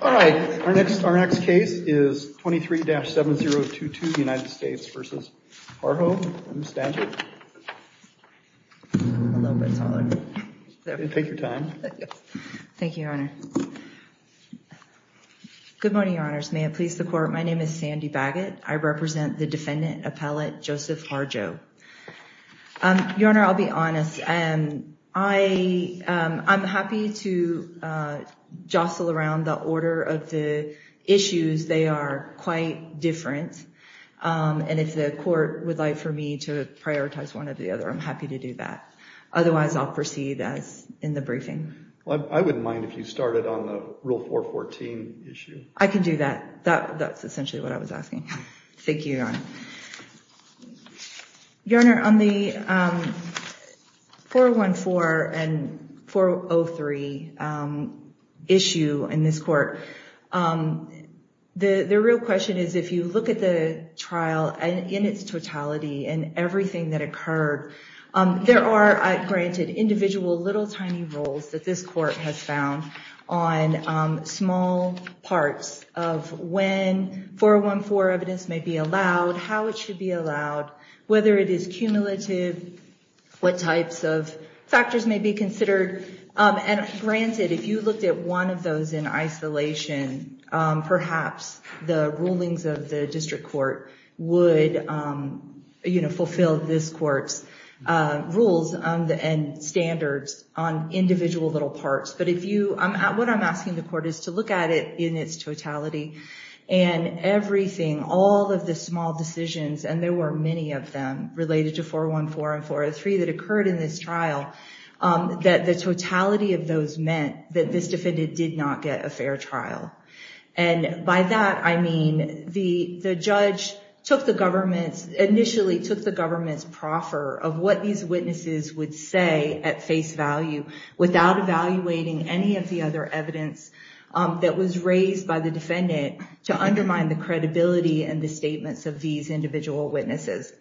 All right, our next case is 23-7022, United States v. Harjo. Ms. Stanchett, take your time. Thank you, Your Honor. Good morning, Your Honors. May it please the Court, my name is Sandy Baggett. I represent the defendant appellate Joseph Harjo. Your Honor, I'll be honest. I'm happy to jostle around the order of the issues. They are quite different. And if the Court would like for me to prioritize one or the other, I'm happy to do that. Otherwise, I'll proceed as in the briefing. I wouldn't mind if you started on the Rule 414 issue. I can do that. That's essentially what I was asking. Thank you, Your Honor. Your Honor, on the 414 and 403 issue in this court, the real question is, if you look at the trial in its totality and everything that occurred, there are, granted, individual little tiny rules that this court has found on small parts of when 414 evidence may be allowed, how it should be allowed, whether it is cumulative, what types of factors may be considered. And granted, if you looked at one of those in standards on individual little parts. But what I'm asking the Court is to look at it in its totality and everything, all of the small decisions, and there were many of them related to 414 and 403 that occurred in this trial, that the totality of those meant that this defendant did not get a fair trial. And by that, I mean the judge initially took the government's proffer of what these individual witnesses were saying at face value without evaluating any of the other evidence that was raised by the defendant to undermine the credibility and the statements of these individual witnesses.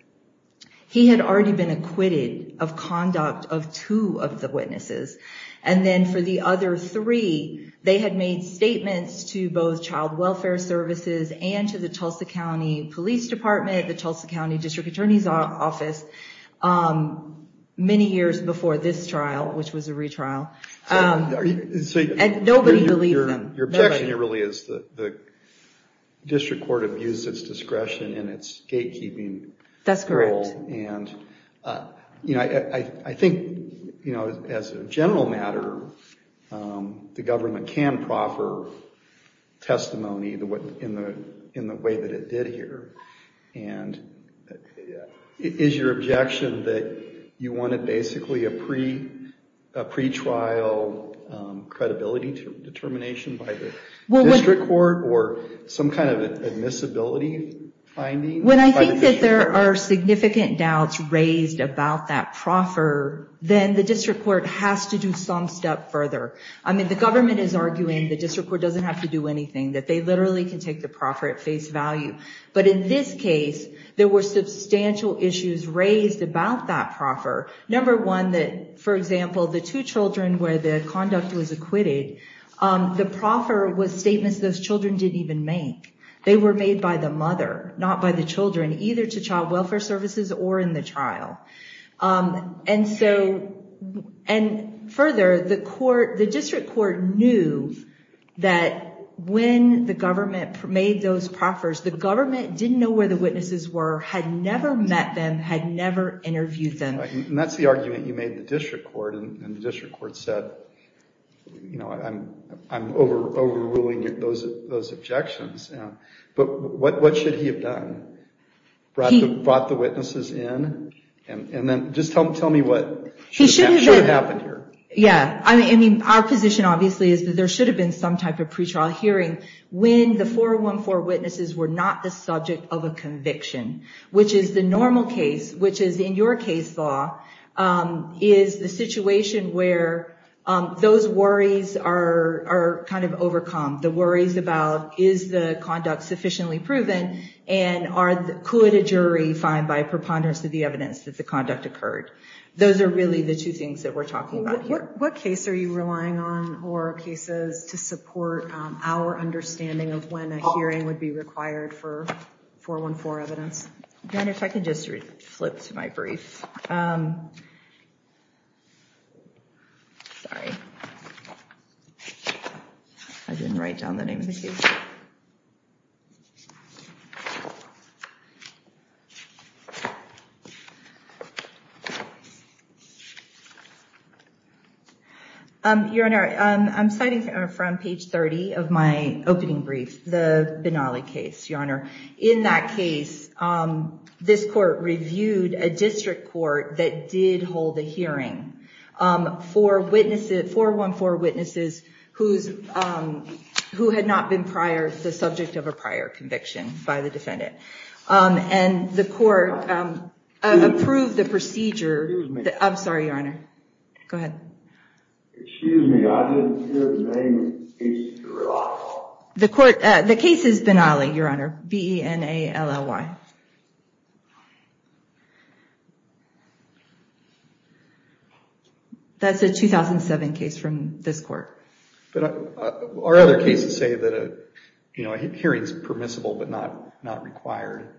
He had already been acquitted of conduct of two of the witnesses, and then for the other three, they had made statements to both Child Welfare Services and to the Tulsa County Police Department, the Tulsa County District Attorney's Office, many years before this trial, which was a retrial. And nobody believed them. Your objection here really is that the District Court abused its discretion in its gatekeeping role. That's correct. And I think as a general matter, the government can proffer testimony in the way that it did here. And is your objection that you wanted basically a pretrial credibility determination by the District Court or some kind of admissibility finding? When I think that there are significant doubts raised about that proffer, then the District Court has to do some step further. I mean, the government is arguing the District Court doesn't have to do anything, that they literally can take the proffer at face value. But in this case, there were substantial issues raised about that proffer. Number one, that for example, the two children where the conduct was acquitted, the children either to Child Welfare Services or in the trial. And further, the District Court knew that when the government made those proffers, the government didn't know where the witnesses were, had never met them, had never interviewed them. And that's the argument you made in the District Court. And the District Court said, you know, I'm overruling those objections. But what should he have done? Brought the witnesses in? And then just tell me what should have happened here. Yeah. I mean, our position obviously is that there should have been some type of pretrial hearing when the 414 witnesses were not the subject of a is the situation where those worries are kind of overcome. The worries about is the conduct sufficiently proven and could a jury find by preponderance of the evidence that the conduct occurred. Those are really the two things that we're talking about here. What case are you relying on or cases to support our understanding of when a hearing would be required for 414 evidence? If I can just flip to my brief. Sorry, I didn't write down the name of the case. Your Honor, I'm citing from page 30 of my opening brief, the Benally case, Your Honor. In that case, this court reviewed a district court that did hold a hearing 414 witnesses who had not been the subject of a prior conviction by the defendant. And the court approved the procedure. I'm sorry, Your Honor. Go ahead. Excuse me, I didn't hear the name of the case at all. The case is Benally, Your Honor. B-E-N-A-L-L-Y. That's a 2007 case from this court. Our other cases say that a hearing is permissible but not required.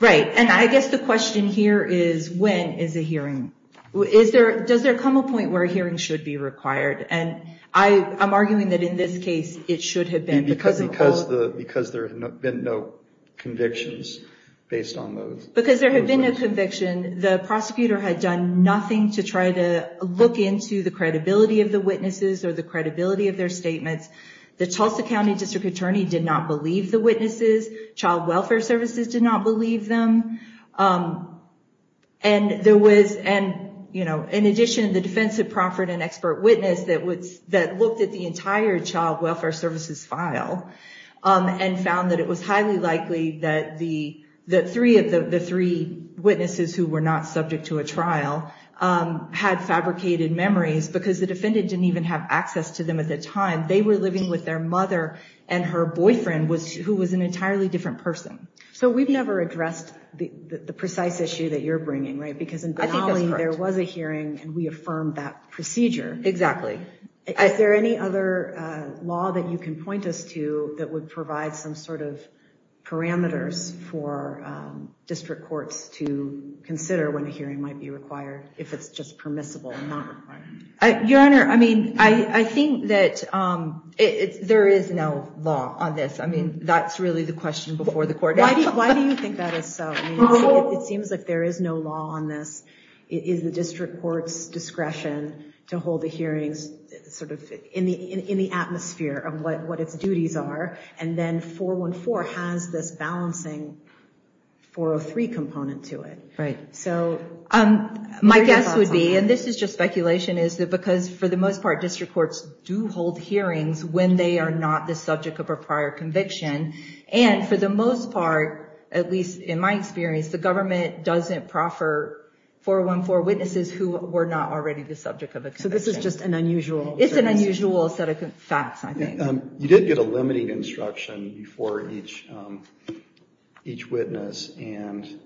Right. And I guess the question here is, when is a hearing? Does there come a point where a hearing should be required? And I'm arguing that in this case it should have been. Because there have been no convictions based on those. Because there have been no convictions, the prosecutor had done nothing to try to look into the credibility of the witnesses or the credibility of their statements. The Tulsa County District Attorney did not believe the witnesses. Child Welfare Services did not believe them. And in addition, the defense had proffered an expert witness that looked at the entire Child Welfare Services file and found that it was highly likely that the three witnesses who were not subject to a trial had fabricated memories because the defendant didn't even have access to them at the time. They were living with their mother and her boyfriend, who was an entirely different person. So we've never addressed the precise issue that you're bringing, right? Because in Benally there was a hearing and we affirmed that procedure. Exactly. Is there any other law that you can point us to that would provide some sort of parameters for district courts to consider when a hearing might be required, if it's just permissible and not required? Your Honor, I mean, I think that there is no law on this. I mean, that's really the question before the court. Why do you think that is so? I mean, it seems like there is no law on this. It is the district court's discretion to hold the hearings sort of in the atmosphere of what its duties are. And then 414 has this balancing 403 component to it. Right. So my guess would be, and this is just speculation, is that because for the most part, district courts do hold hearings when they are not the subject of a prior conviction. And for the most part, at least in my experience, the government doesn't proffer 414 witnesses who were not already the subject of a conviction. So this is just an unusual circumstance. It's an unusual set of facts, I think. You did get a limiting instruction before each witness and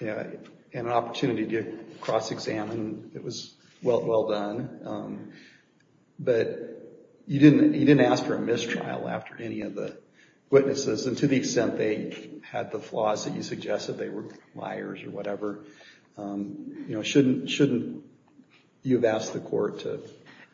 an opportunity to cross-examine. It was well done. But you didn't ask for a mistrial after any of the witnesses. And to the extent they had the flaws that you suggested, they were liars or whatever, shouldn't you have asked the court to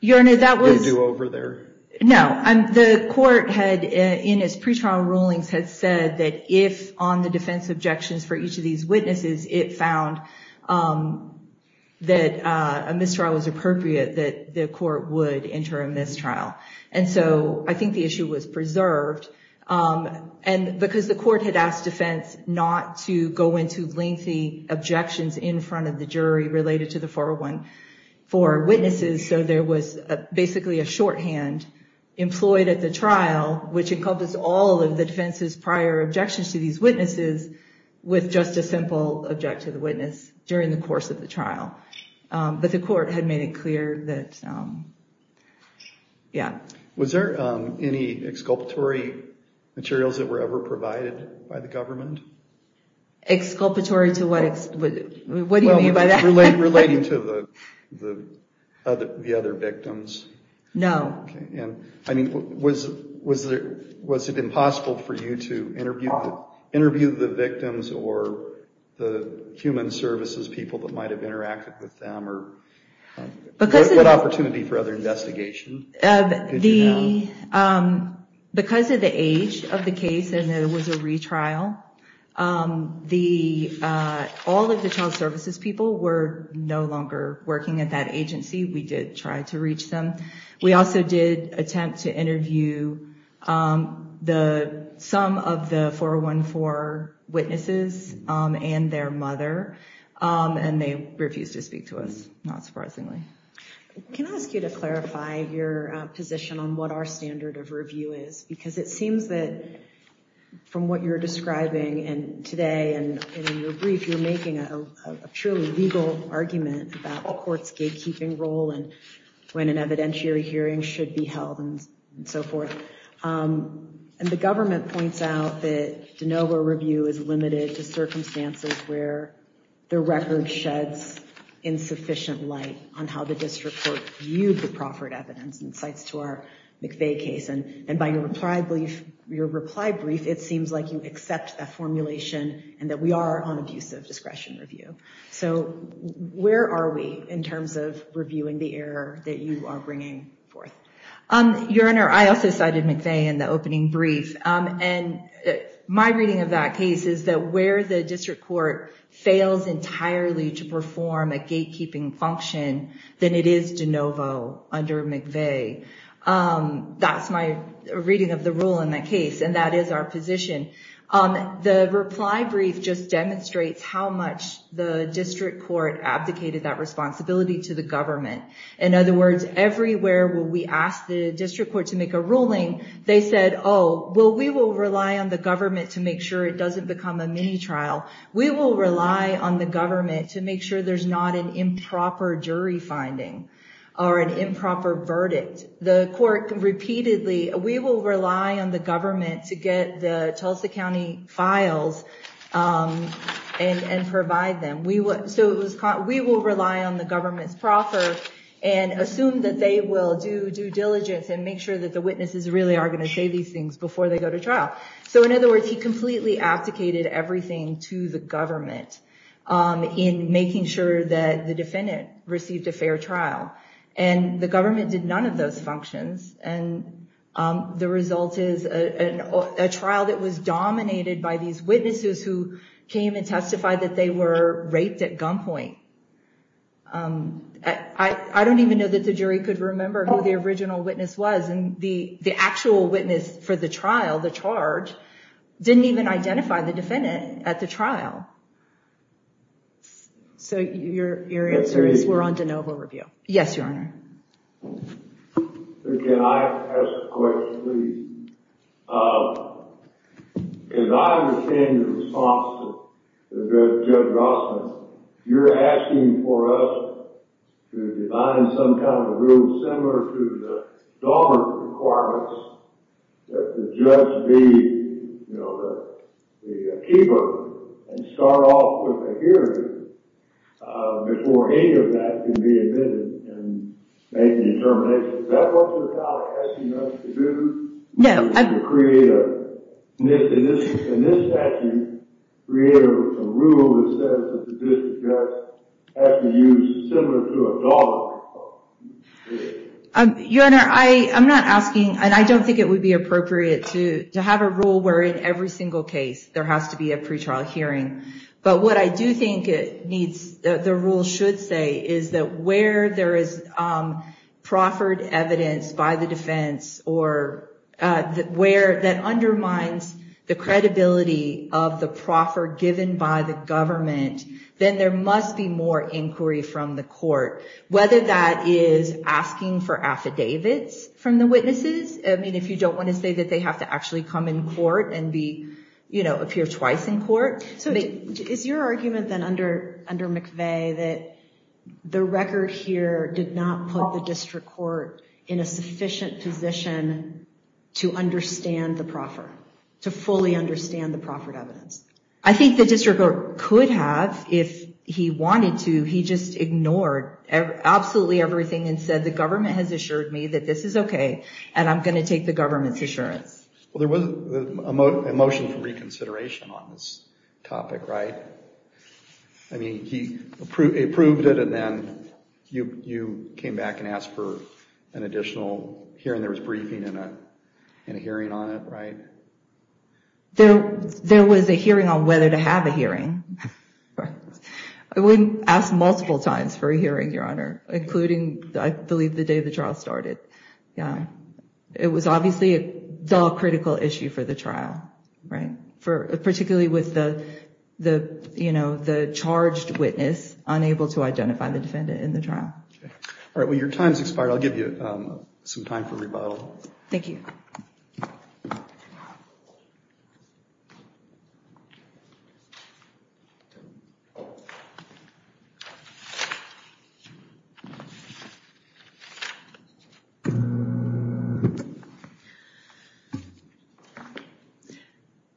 do over there? No. The court, in its pretrial rulings, had said that if, on the defense objections for each of these witnesses, it found that a mistrial was appropriate, that the court would enter a mistrial. And so I think the issue was preserved. And because the court had asked defense not to go into lengthy objections in front of the jury related to the 414 witnesses, so there was basically a shorthand. Employed at the trial, which encompassed all of the defense's prior objections to these witnesses, with just a simple object to the witness during the course of the trial. But the court had made it clear that, yeah. Was there any exculpatory materials that were ever provided by the government? Exculpatory to what? What do you mean by that? Relating to the other victims. No. Was it impossible for you to interview the victims or the human services people that might have interacted with them? What opportunity for other investigation did you have? Because of the age of the case, and it was a retrial, all of the child services people were no longer working at that agency. We did try to reach them. We also did attempt to interview some of the 414 witnesses and their mother, and they refused to speak to us, not surprisingly. Can I ask you to clarify your position on what our standard of review is? Because it seems that from what you're describing today and in your brief, you're making a truly legal argument about the court's gatekeeping role and when an evidentiary hearing should be held and so forth. And the government points out that de novo review is limited to circumstances where the record sheds insufficient light on how the district court viewed the proffered evidence and cites to our McVeigh case. And by your reply brief, it seems like you accept that formulation and that we are on abusive discretion review. So where are we in terms of reviewing the error that you are bringing forth? Your Honor, I also cited McVeigh in the opening brief, and my reading of that case is that where the district court fails entirely to perform a gatekeeping function, then it is de novo under McVeigh. That's my reading of the rule in that case, and that is our position. The reply brief just demonstrates how much the district court abdicated that responsibility to the government. In other words, everywhere where we asked the district court to make a ruling, they said, oh, well, we will rely on the government to make sure it doesn't become a mini trial. We will rely on the government to make sure there's not an improper jury finding or an improper verdict. The court repeatedly, we will rely on the government to get the Tulsa County files and provide them. We will rely on the government's proffer and assume that they will do due diligence and make sure that the witnesses really are going to say these things before they go to trial. So in other words, he completely abdicated everything to the government in making sure that the defendant received a fair trial. And the government did none of those functions, and the result is a trial that was dominated by these witnesses who came and testified that they were raped at gunpoint. I don't even know that the jury could remember who the original witness was, and the actual witness for the trial, the charge, didn't even identify the defendant at the trial. So your answer is we're on de novo review? Yes, Your Honor. Can I ask a question, please? As I understand the response to Judge Rossman, you're asking for us to design some kind of a rule similar to the government requirements that the judge be the keeper and start off with a hearing before any of that can be admitted and make a determination. Is that what your colleague is asking us to do? No. In this statute, create a rule that says that the district judge has to use similar to a dollar. Your Honor, I'm not asking, and I don't think it would be appropriate to have a rule where in every single case there has to be a pretrial hearing. But what I do think the rule should say is that where there is proffered evidence by the defense or where that undermines the credibility of the proffer given by the government, then there must be more inquiry from the court, whether that is asking for affidavits from the witnesses. I mean, if you don't want to say that they have to actually come in court and appear twice in court. So is your argument then under McVeigh that the record here did not put the district court in a sufficient position to understand the proffer, to fully understand the proffered evidence? I think the district court could have if he wanted to. He just ignored absolutely everything and said the government has assured me that this is OK and I'm going to take the government's assurance. Well, there was a motion for reconsideration on this topic, right? I mean, he approved it and then you came back and asked for an additional hearing. There was briefing and a hearing on it, right? There was a hearing on whether to have a hearing. I wouldn't ask multiple times for a hearing, Your Honor, including I believe the day the trial started. It was obviously a critical issue for the trial, right? Particularly with the charged witness unable to identify the defendant in the trial. All right. Well, your time's expired. I'll give you some time for rebuttal. Thank you.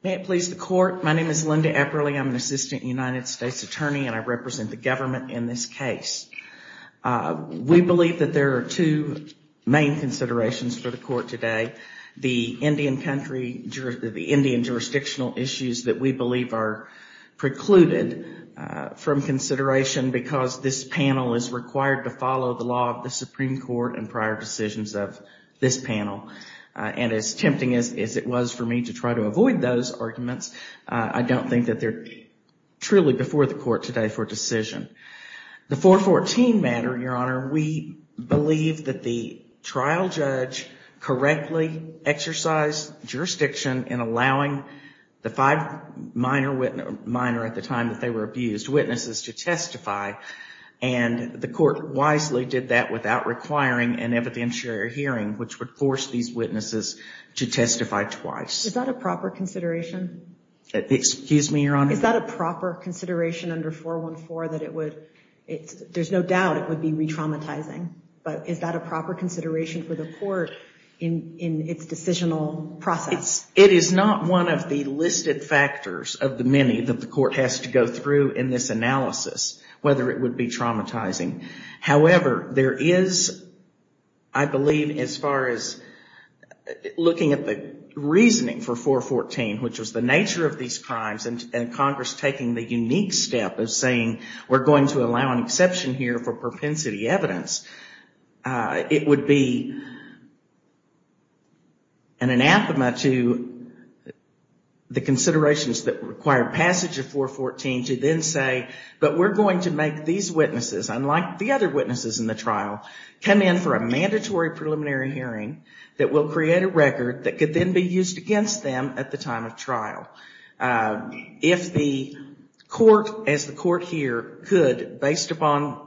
May it please the court. My name is Linda Epperle. I'm an assistant United States attorney and I represent the government in this case. We believe that there are two main considerations for the court today. The Indian country, the Indian jurisdictional issues that we believe are precluded from consideration because this panel is required to follow the law of the Supreme Court and prior decisions of this panel. And as tempting as it was for me to try to avoid those arguments, I don't think that they're truly before the court today for decision. The 414 matter, Your Honor, we believe that the trial judge correctly exercised jurisdiction in allowing the five minor at the time that they were abused witnesses to testify. And the court wisely did that without requiring an evidentiary hearing, which would force these witnesses to testify twice. Is that a proper consideration? Excuse me, Your Honor? Is that a proper consideration under 414 that it would, there's no doubt it would be re-traumatizing, but is that a proper consideration for the court in its decisional process? It is not one of the listed factors of the many that the court has to go through in this analysis, whether it would be traumatizing. However, there is, I believe, as far as looking at the reasoning for 414, which was the nature of these crimes and Congress taking the unique step of saying, we're going to allow an exception here for propensity evidence. It would be an anathema to the considerations that require passage of 414 to then say, but we're going to make these witnesses, unlike the other witnesses in the trial, come in for a mandatory preliminary hearing that will create a record that could then be used against them at the time of trial. If the court, as the court here could, based upon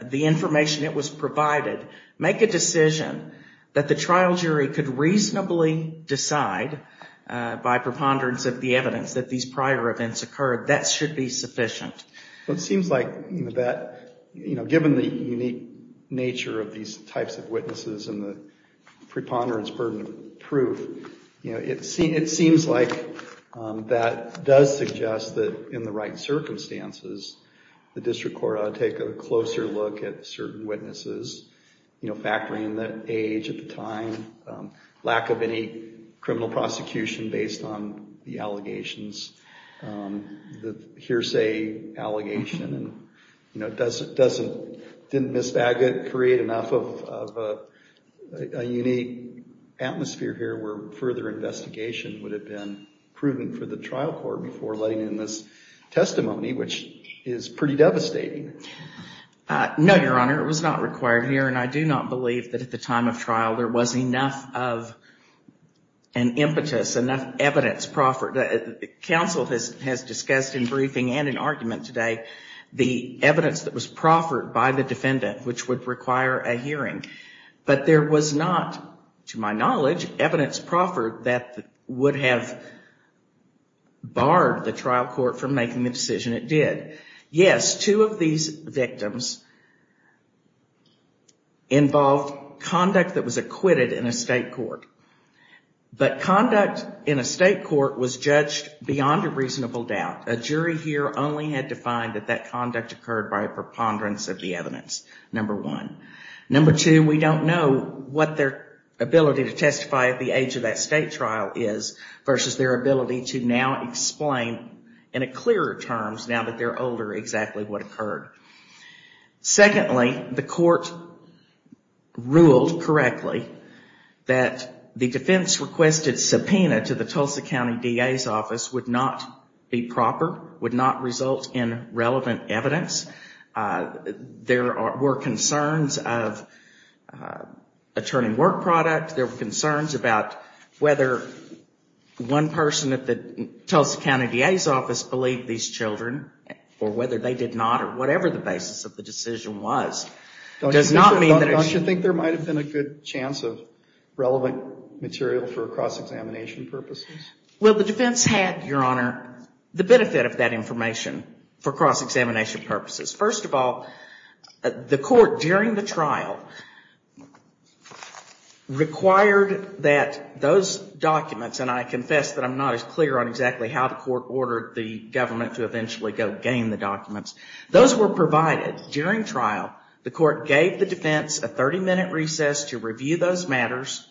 the information that was provided, make a decision that the trial jury could reasonably decide by preponderance of the evidence that these prior events occurred, that should be sufficient. It seems like that, given the unique nature of these types of witnesses and the preponderance burden of proof, it seems like that does suggest that in the right circumstances, the district court ought to take a closer look at certain witnesses. Factoring in the age at the time, lack of any criminal prosecution based on the allegations, the hearsay allegation, didn't Ms. Baggett create enough of a unique atmosphere here where further investigation would have been prudent for the trial court before letting in this testimony, which is pretty devastating? No, Your Honor. It was not required here. And I do not believe that at the time of trial there was enough of an impetus, enough evidence proffered. The counsel has discussed in briefing and in argument today the evidence that was proffered by the defendant, which would require a hearing. But there was not, to my knowledge, evidence proffered that would have barred the trial court from making the decision it did. Yes, two of these victims involved conduct that was acquitted in a state court. But conduct in a state court was judged beyond a reasonable doubt. A jury here only had to find that that conduct occurred by a preponderance of the evidence, number one. Number two, we don't know what their ability to testify at the age of that state trial is versus their ability to now explain in a clearer terms now that they're older exactly what occurred. Secondly, the court ruled correctly that the defense requested subpoena to the Tulsa County DA's office would not be proper, would not result in relevant evidence. There were concerns of attorney work product. There were concerns about whether one person at the Tulsa County DA's office believed these children or whether they did not or whatever the basis of the decision was. Don't you think there might have been a good chance of relevant material for cross-examination purposes? Well, the defense had, Your Honor, the benefit of that information for cross-examination purposes. First of all, the court during the trial required that those documents, and I confess that I'm not as clear on exactly how the court ordered the government to eventually go gain the documents. Those were provided during trial. The court gave the defense a 30-minute recess to review those matters,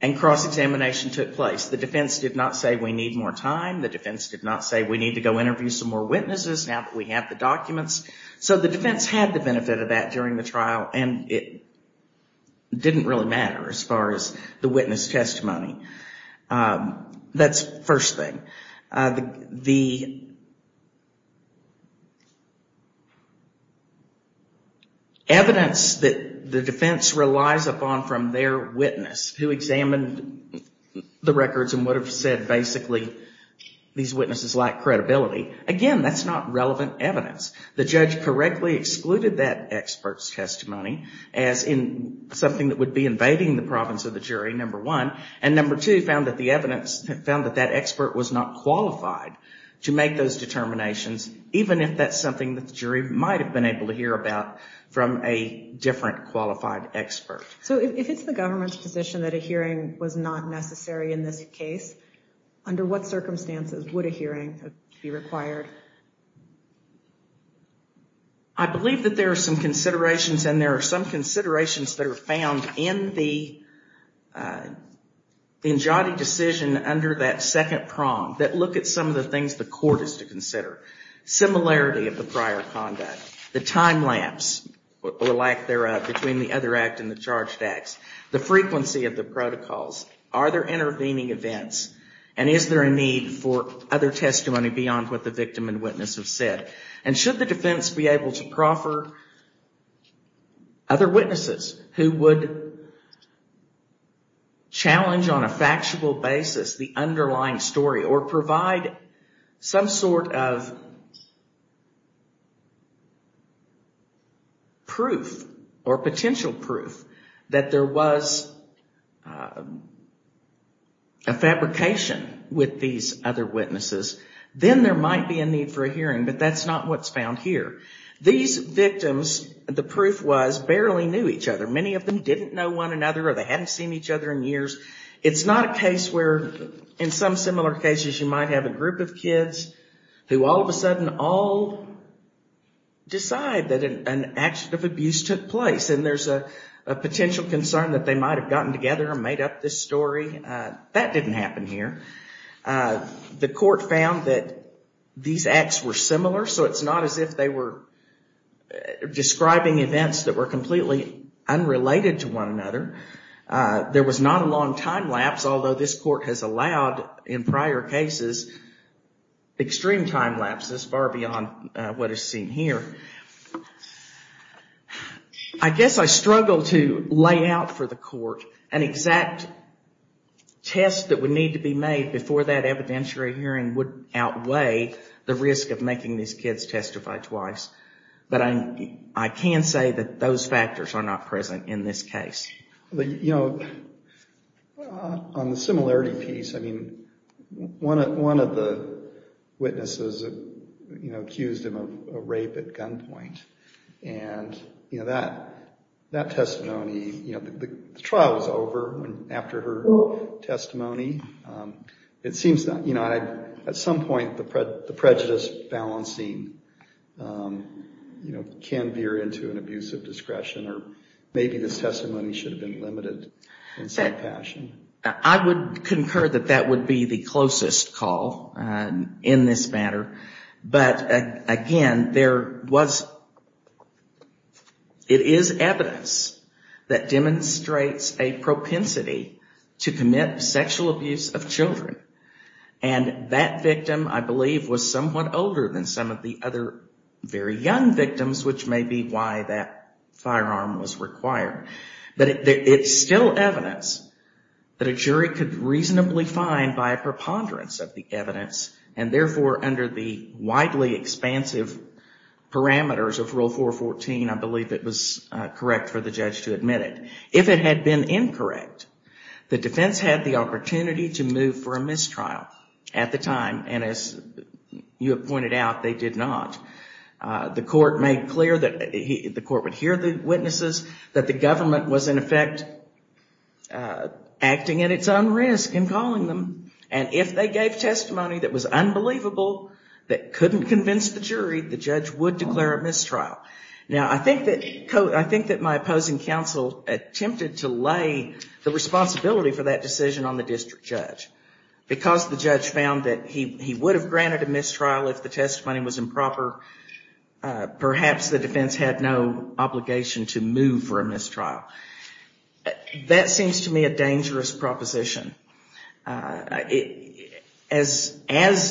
and cross-examination took place. The defense did not say we need more time. The defense did not say we need to go interview some more witnesses now that we have the documents. So the defense had the benefit of that during the trial, and it didn't really matter as far as the witness testimony. That's the first thing. The evidence that the defense relies upon from their witness who examined the records and would have said basically these witnesses lack credibility, again, that's not relevant evidence. The judge correctly excluded that expert's testimony as something that would be invading the province of the jury, number one, and number two, found that the evidence found that that expert was not qualified to make those determinations, even if that's something that the jury might have been able to hear about from a different qualified expert. So if it's the government's position that a hearing was not necessary in this case, under what circumstances would a hearing be required? I believe that there are some considerations, and there are some considerations that are found in the Njoti decision under that second prong that look at some of the things the court is to consider. Similarity of the prior conduct, the time lapse or lack thereof between the other act and the charged acts, the frequency of the protocols, are there intervening events, and is there a need for other testimony beyond what the victim and witness have said? And should the defense be able to proffer other witnesses who would challenge on a factual basis the underlying story or provide some sort of proof or potential proof that there was a fabrication with these other witnesses, then there might be a need for a hearing, but that's not what's found here. These victims, the proof was, barely knew each other. Many of them didn't know one another or they hadn't seen each other in years. It's not a case where, in some similar cases, you might have a group of kids who all of a sudden all decide that an action of abuse took place, and there's a potential concern that they might have gotten together and made up this story. That didn't happen here. The court found that these acts were similar, so it's not as if they were describing events that were completely unrelated to one another. There was not a long time lapse, although this court has allowed, in prior cases, extreme time lapses far beyond what is seen here. I guess I struggle to lay out for the court an exact test that would need to be made before that evidentiary hearing would outweigh the risk of making these kids testify twice. But I can say that those factors are not present in this case. On the similarity piece, one of the witnesses accused him of rape at gunpoint, and that testimony, the trial was over after her testimony. At some point, the prejudice balancing can veer into an abuse of discretion, or maybe this testimony should have been limited in some fashion. I would concur that that would be the closest call in this matter, but again, it is evidence that demonstrates a propensity to commit sexual abuse of children. And that victim, I believe, was somewhat older than some of the other very young victims, which may be why that firearm was required. But it's still evidence that a jury could reasonably find by a preponderance of the evidence, and therefore, under the widely expansive parameters of Rule 414, I believe it was correct for the judge to admit it. If it had been incorrect, the defense had the opportunity to move for a mistrial at the time, and as you have pointed out, they did not. The court would hear the witnesses, that the government was in effect acting at its own risk in calling them, and if they gave testimony that was unbelievable, that couldn't convince the jury, the judge would declare a mistrial. Now, I think that my opposing counsel attempted to lay the responsibility for that decision on the district judge. Because the judge found that he would have granted a mistrial if the testimony was improper, perhaps the defense had no obligation to move for a mistrial. That seems to me a dangerous proposition. As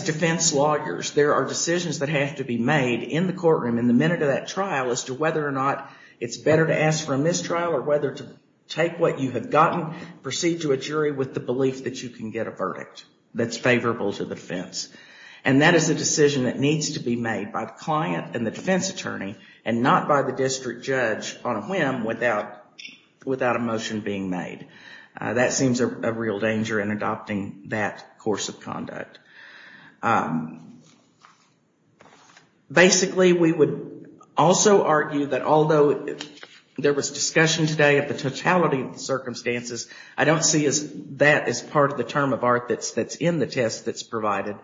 defense lawyers, there are decisions that have to be made in the courtroom in the minute of that trial as to whether or not it's better to ask for a mistrial, or whether to take what you have gotten, proceed to a jury with the belief that you can get a verdict that's favorable to the defense. And that is a decision that needs to be made by the client and the defense attorney, and not by the district judge on a whim without a motion being made. That seems a real danger in adopting that course of conduct. Basically, we would also argue that although there was discussion today of the totality of the circumstances, I don't see that as part of the term of art that's in the test that's provided.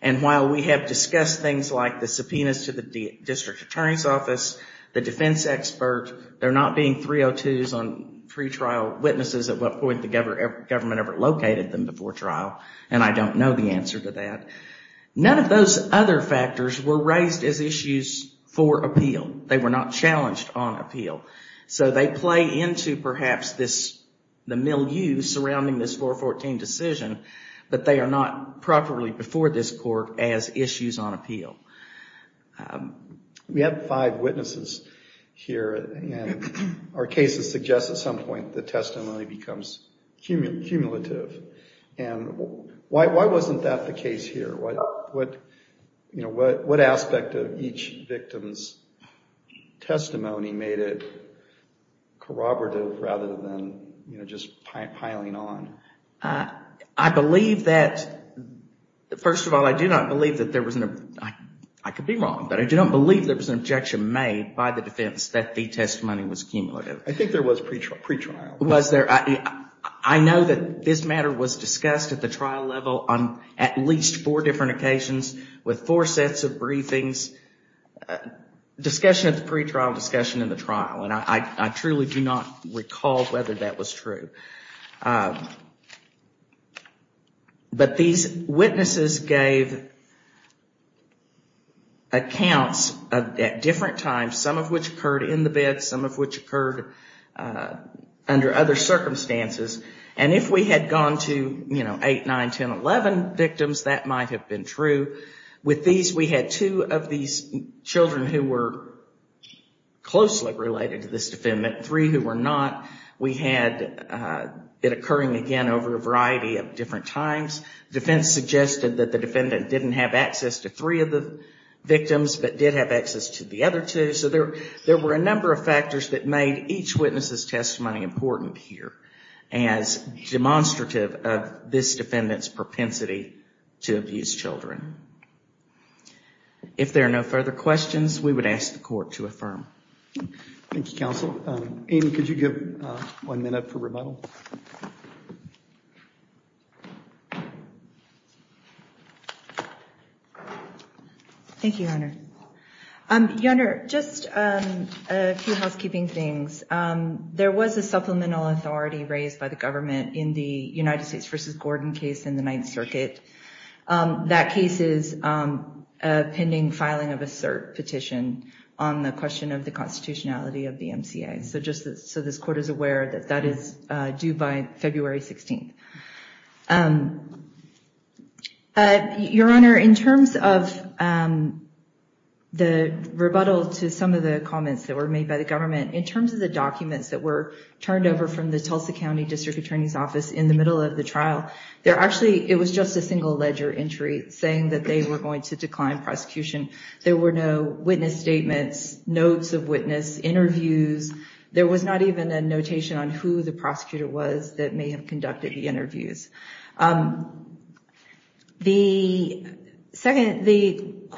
And while we have discussed things like the subpoenas to the district attorney's office, the defense expert, they're not being 302s on pretrial witnesses at what point the government ever located them before trial. And I don't know the answer to that. None of those other factors were raised as issues for appeal. They were not challenged on appeal. So they play into, perhaps, the milieu surrounding this 414 decision. But they are not properly before this court as issues on appeal. We have five witnesses here, and our cases suggest at some point the testimony becomes cumulative. And why wasn't that the case here? What aspect of each victim's testimony made it corroborative rather than just piling on? I believe that, first of all, I do not believe that there was an, I could be wrong, but I do not believe there was an objection made by the defense that the testimony was cumulative. I think there was pretrial. I know that this matter was discussed at the trial level on at least four different occasions with four sets of briefings. Discussion of the pretrial, discussion of the trial. And I truly do not recall whether that was true. But these witnesses gave accounts at different times, some of which occurred in the bed, some of which occurred under other circumstances. And if we had gone to, you know, 8, 9, 10, 11 victims, that might have been true. With these, we had two of these children who were closely related to this defendant, three who were not. We had it occurring again over a variety of different times. Defense suggested that the defendant didn't have access to three of the victims, but did have access to the other two. So there were a number of factors that made each witness's testimony important here as demonstrative of this defendant's propensity to abuse children. If there are no further questions, we would ask the court to affirm. Thank you, counsel. Amy, could you give one minute for rebuttal? Thank you, Your Honor. Your Honor, just a few housekeeping things. There was a supplemental authority raised by the government in the United States versus Gordon case in the Ninth Circuit. That case is a pending filing of a cert petition on the question of the constitutionality of the MCA. So just so this court is aware that that is due by February 16th. Your Honor, in terms of the rebuttal to some of the comments that were made by the government, in terms of the documents that were turned over from the Tulsa County District Attorney's Office in the middle of the trial, it was just a single ledger entry saying that they were going to decline prosecution. There were no witness statements, notes of witness, interviews. There was not even a notation on who the prosecutor was that may have conducted the interviews. The district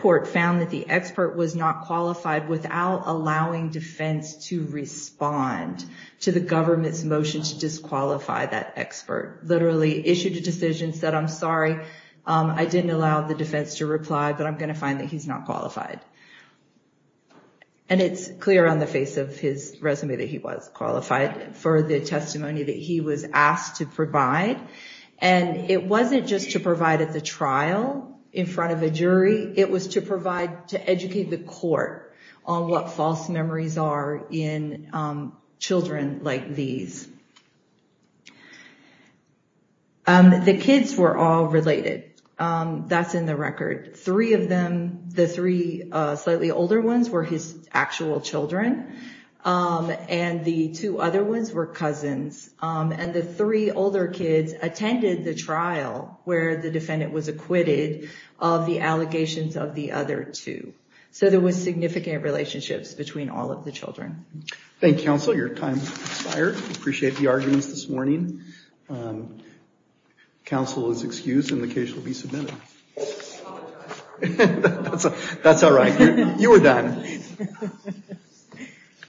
court found that the expert was not qualified without allowing defense to respond to the government's motion to disqualify that expert. Literally issued a decision, said, I'm sorry, I didn't allow the defense to reply, but I'm going to find that he's not qualified. And it's clear on the face of his resume that he was qualified for the testimony that he was asked to provide. And it wasn't just to provide at the trial in front of a jury. It was to provide, to educate the court on what false memories are in children like these. The kids were all related. That's in the record. Three of them, the three slightly older ones, were his actual children. And the two other ones were cousins. And the three older kids attended the trial where the defendant was acquitted of the allegations of the other two. So there was significant relationships between all of the children. Thank you, counsel. Your time has expired. Appreciate the arguments this morning. Counsel is excused and the case will be submitted. That's all right. You were done.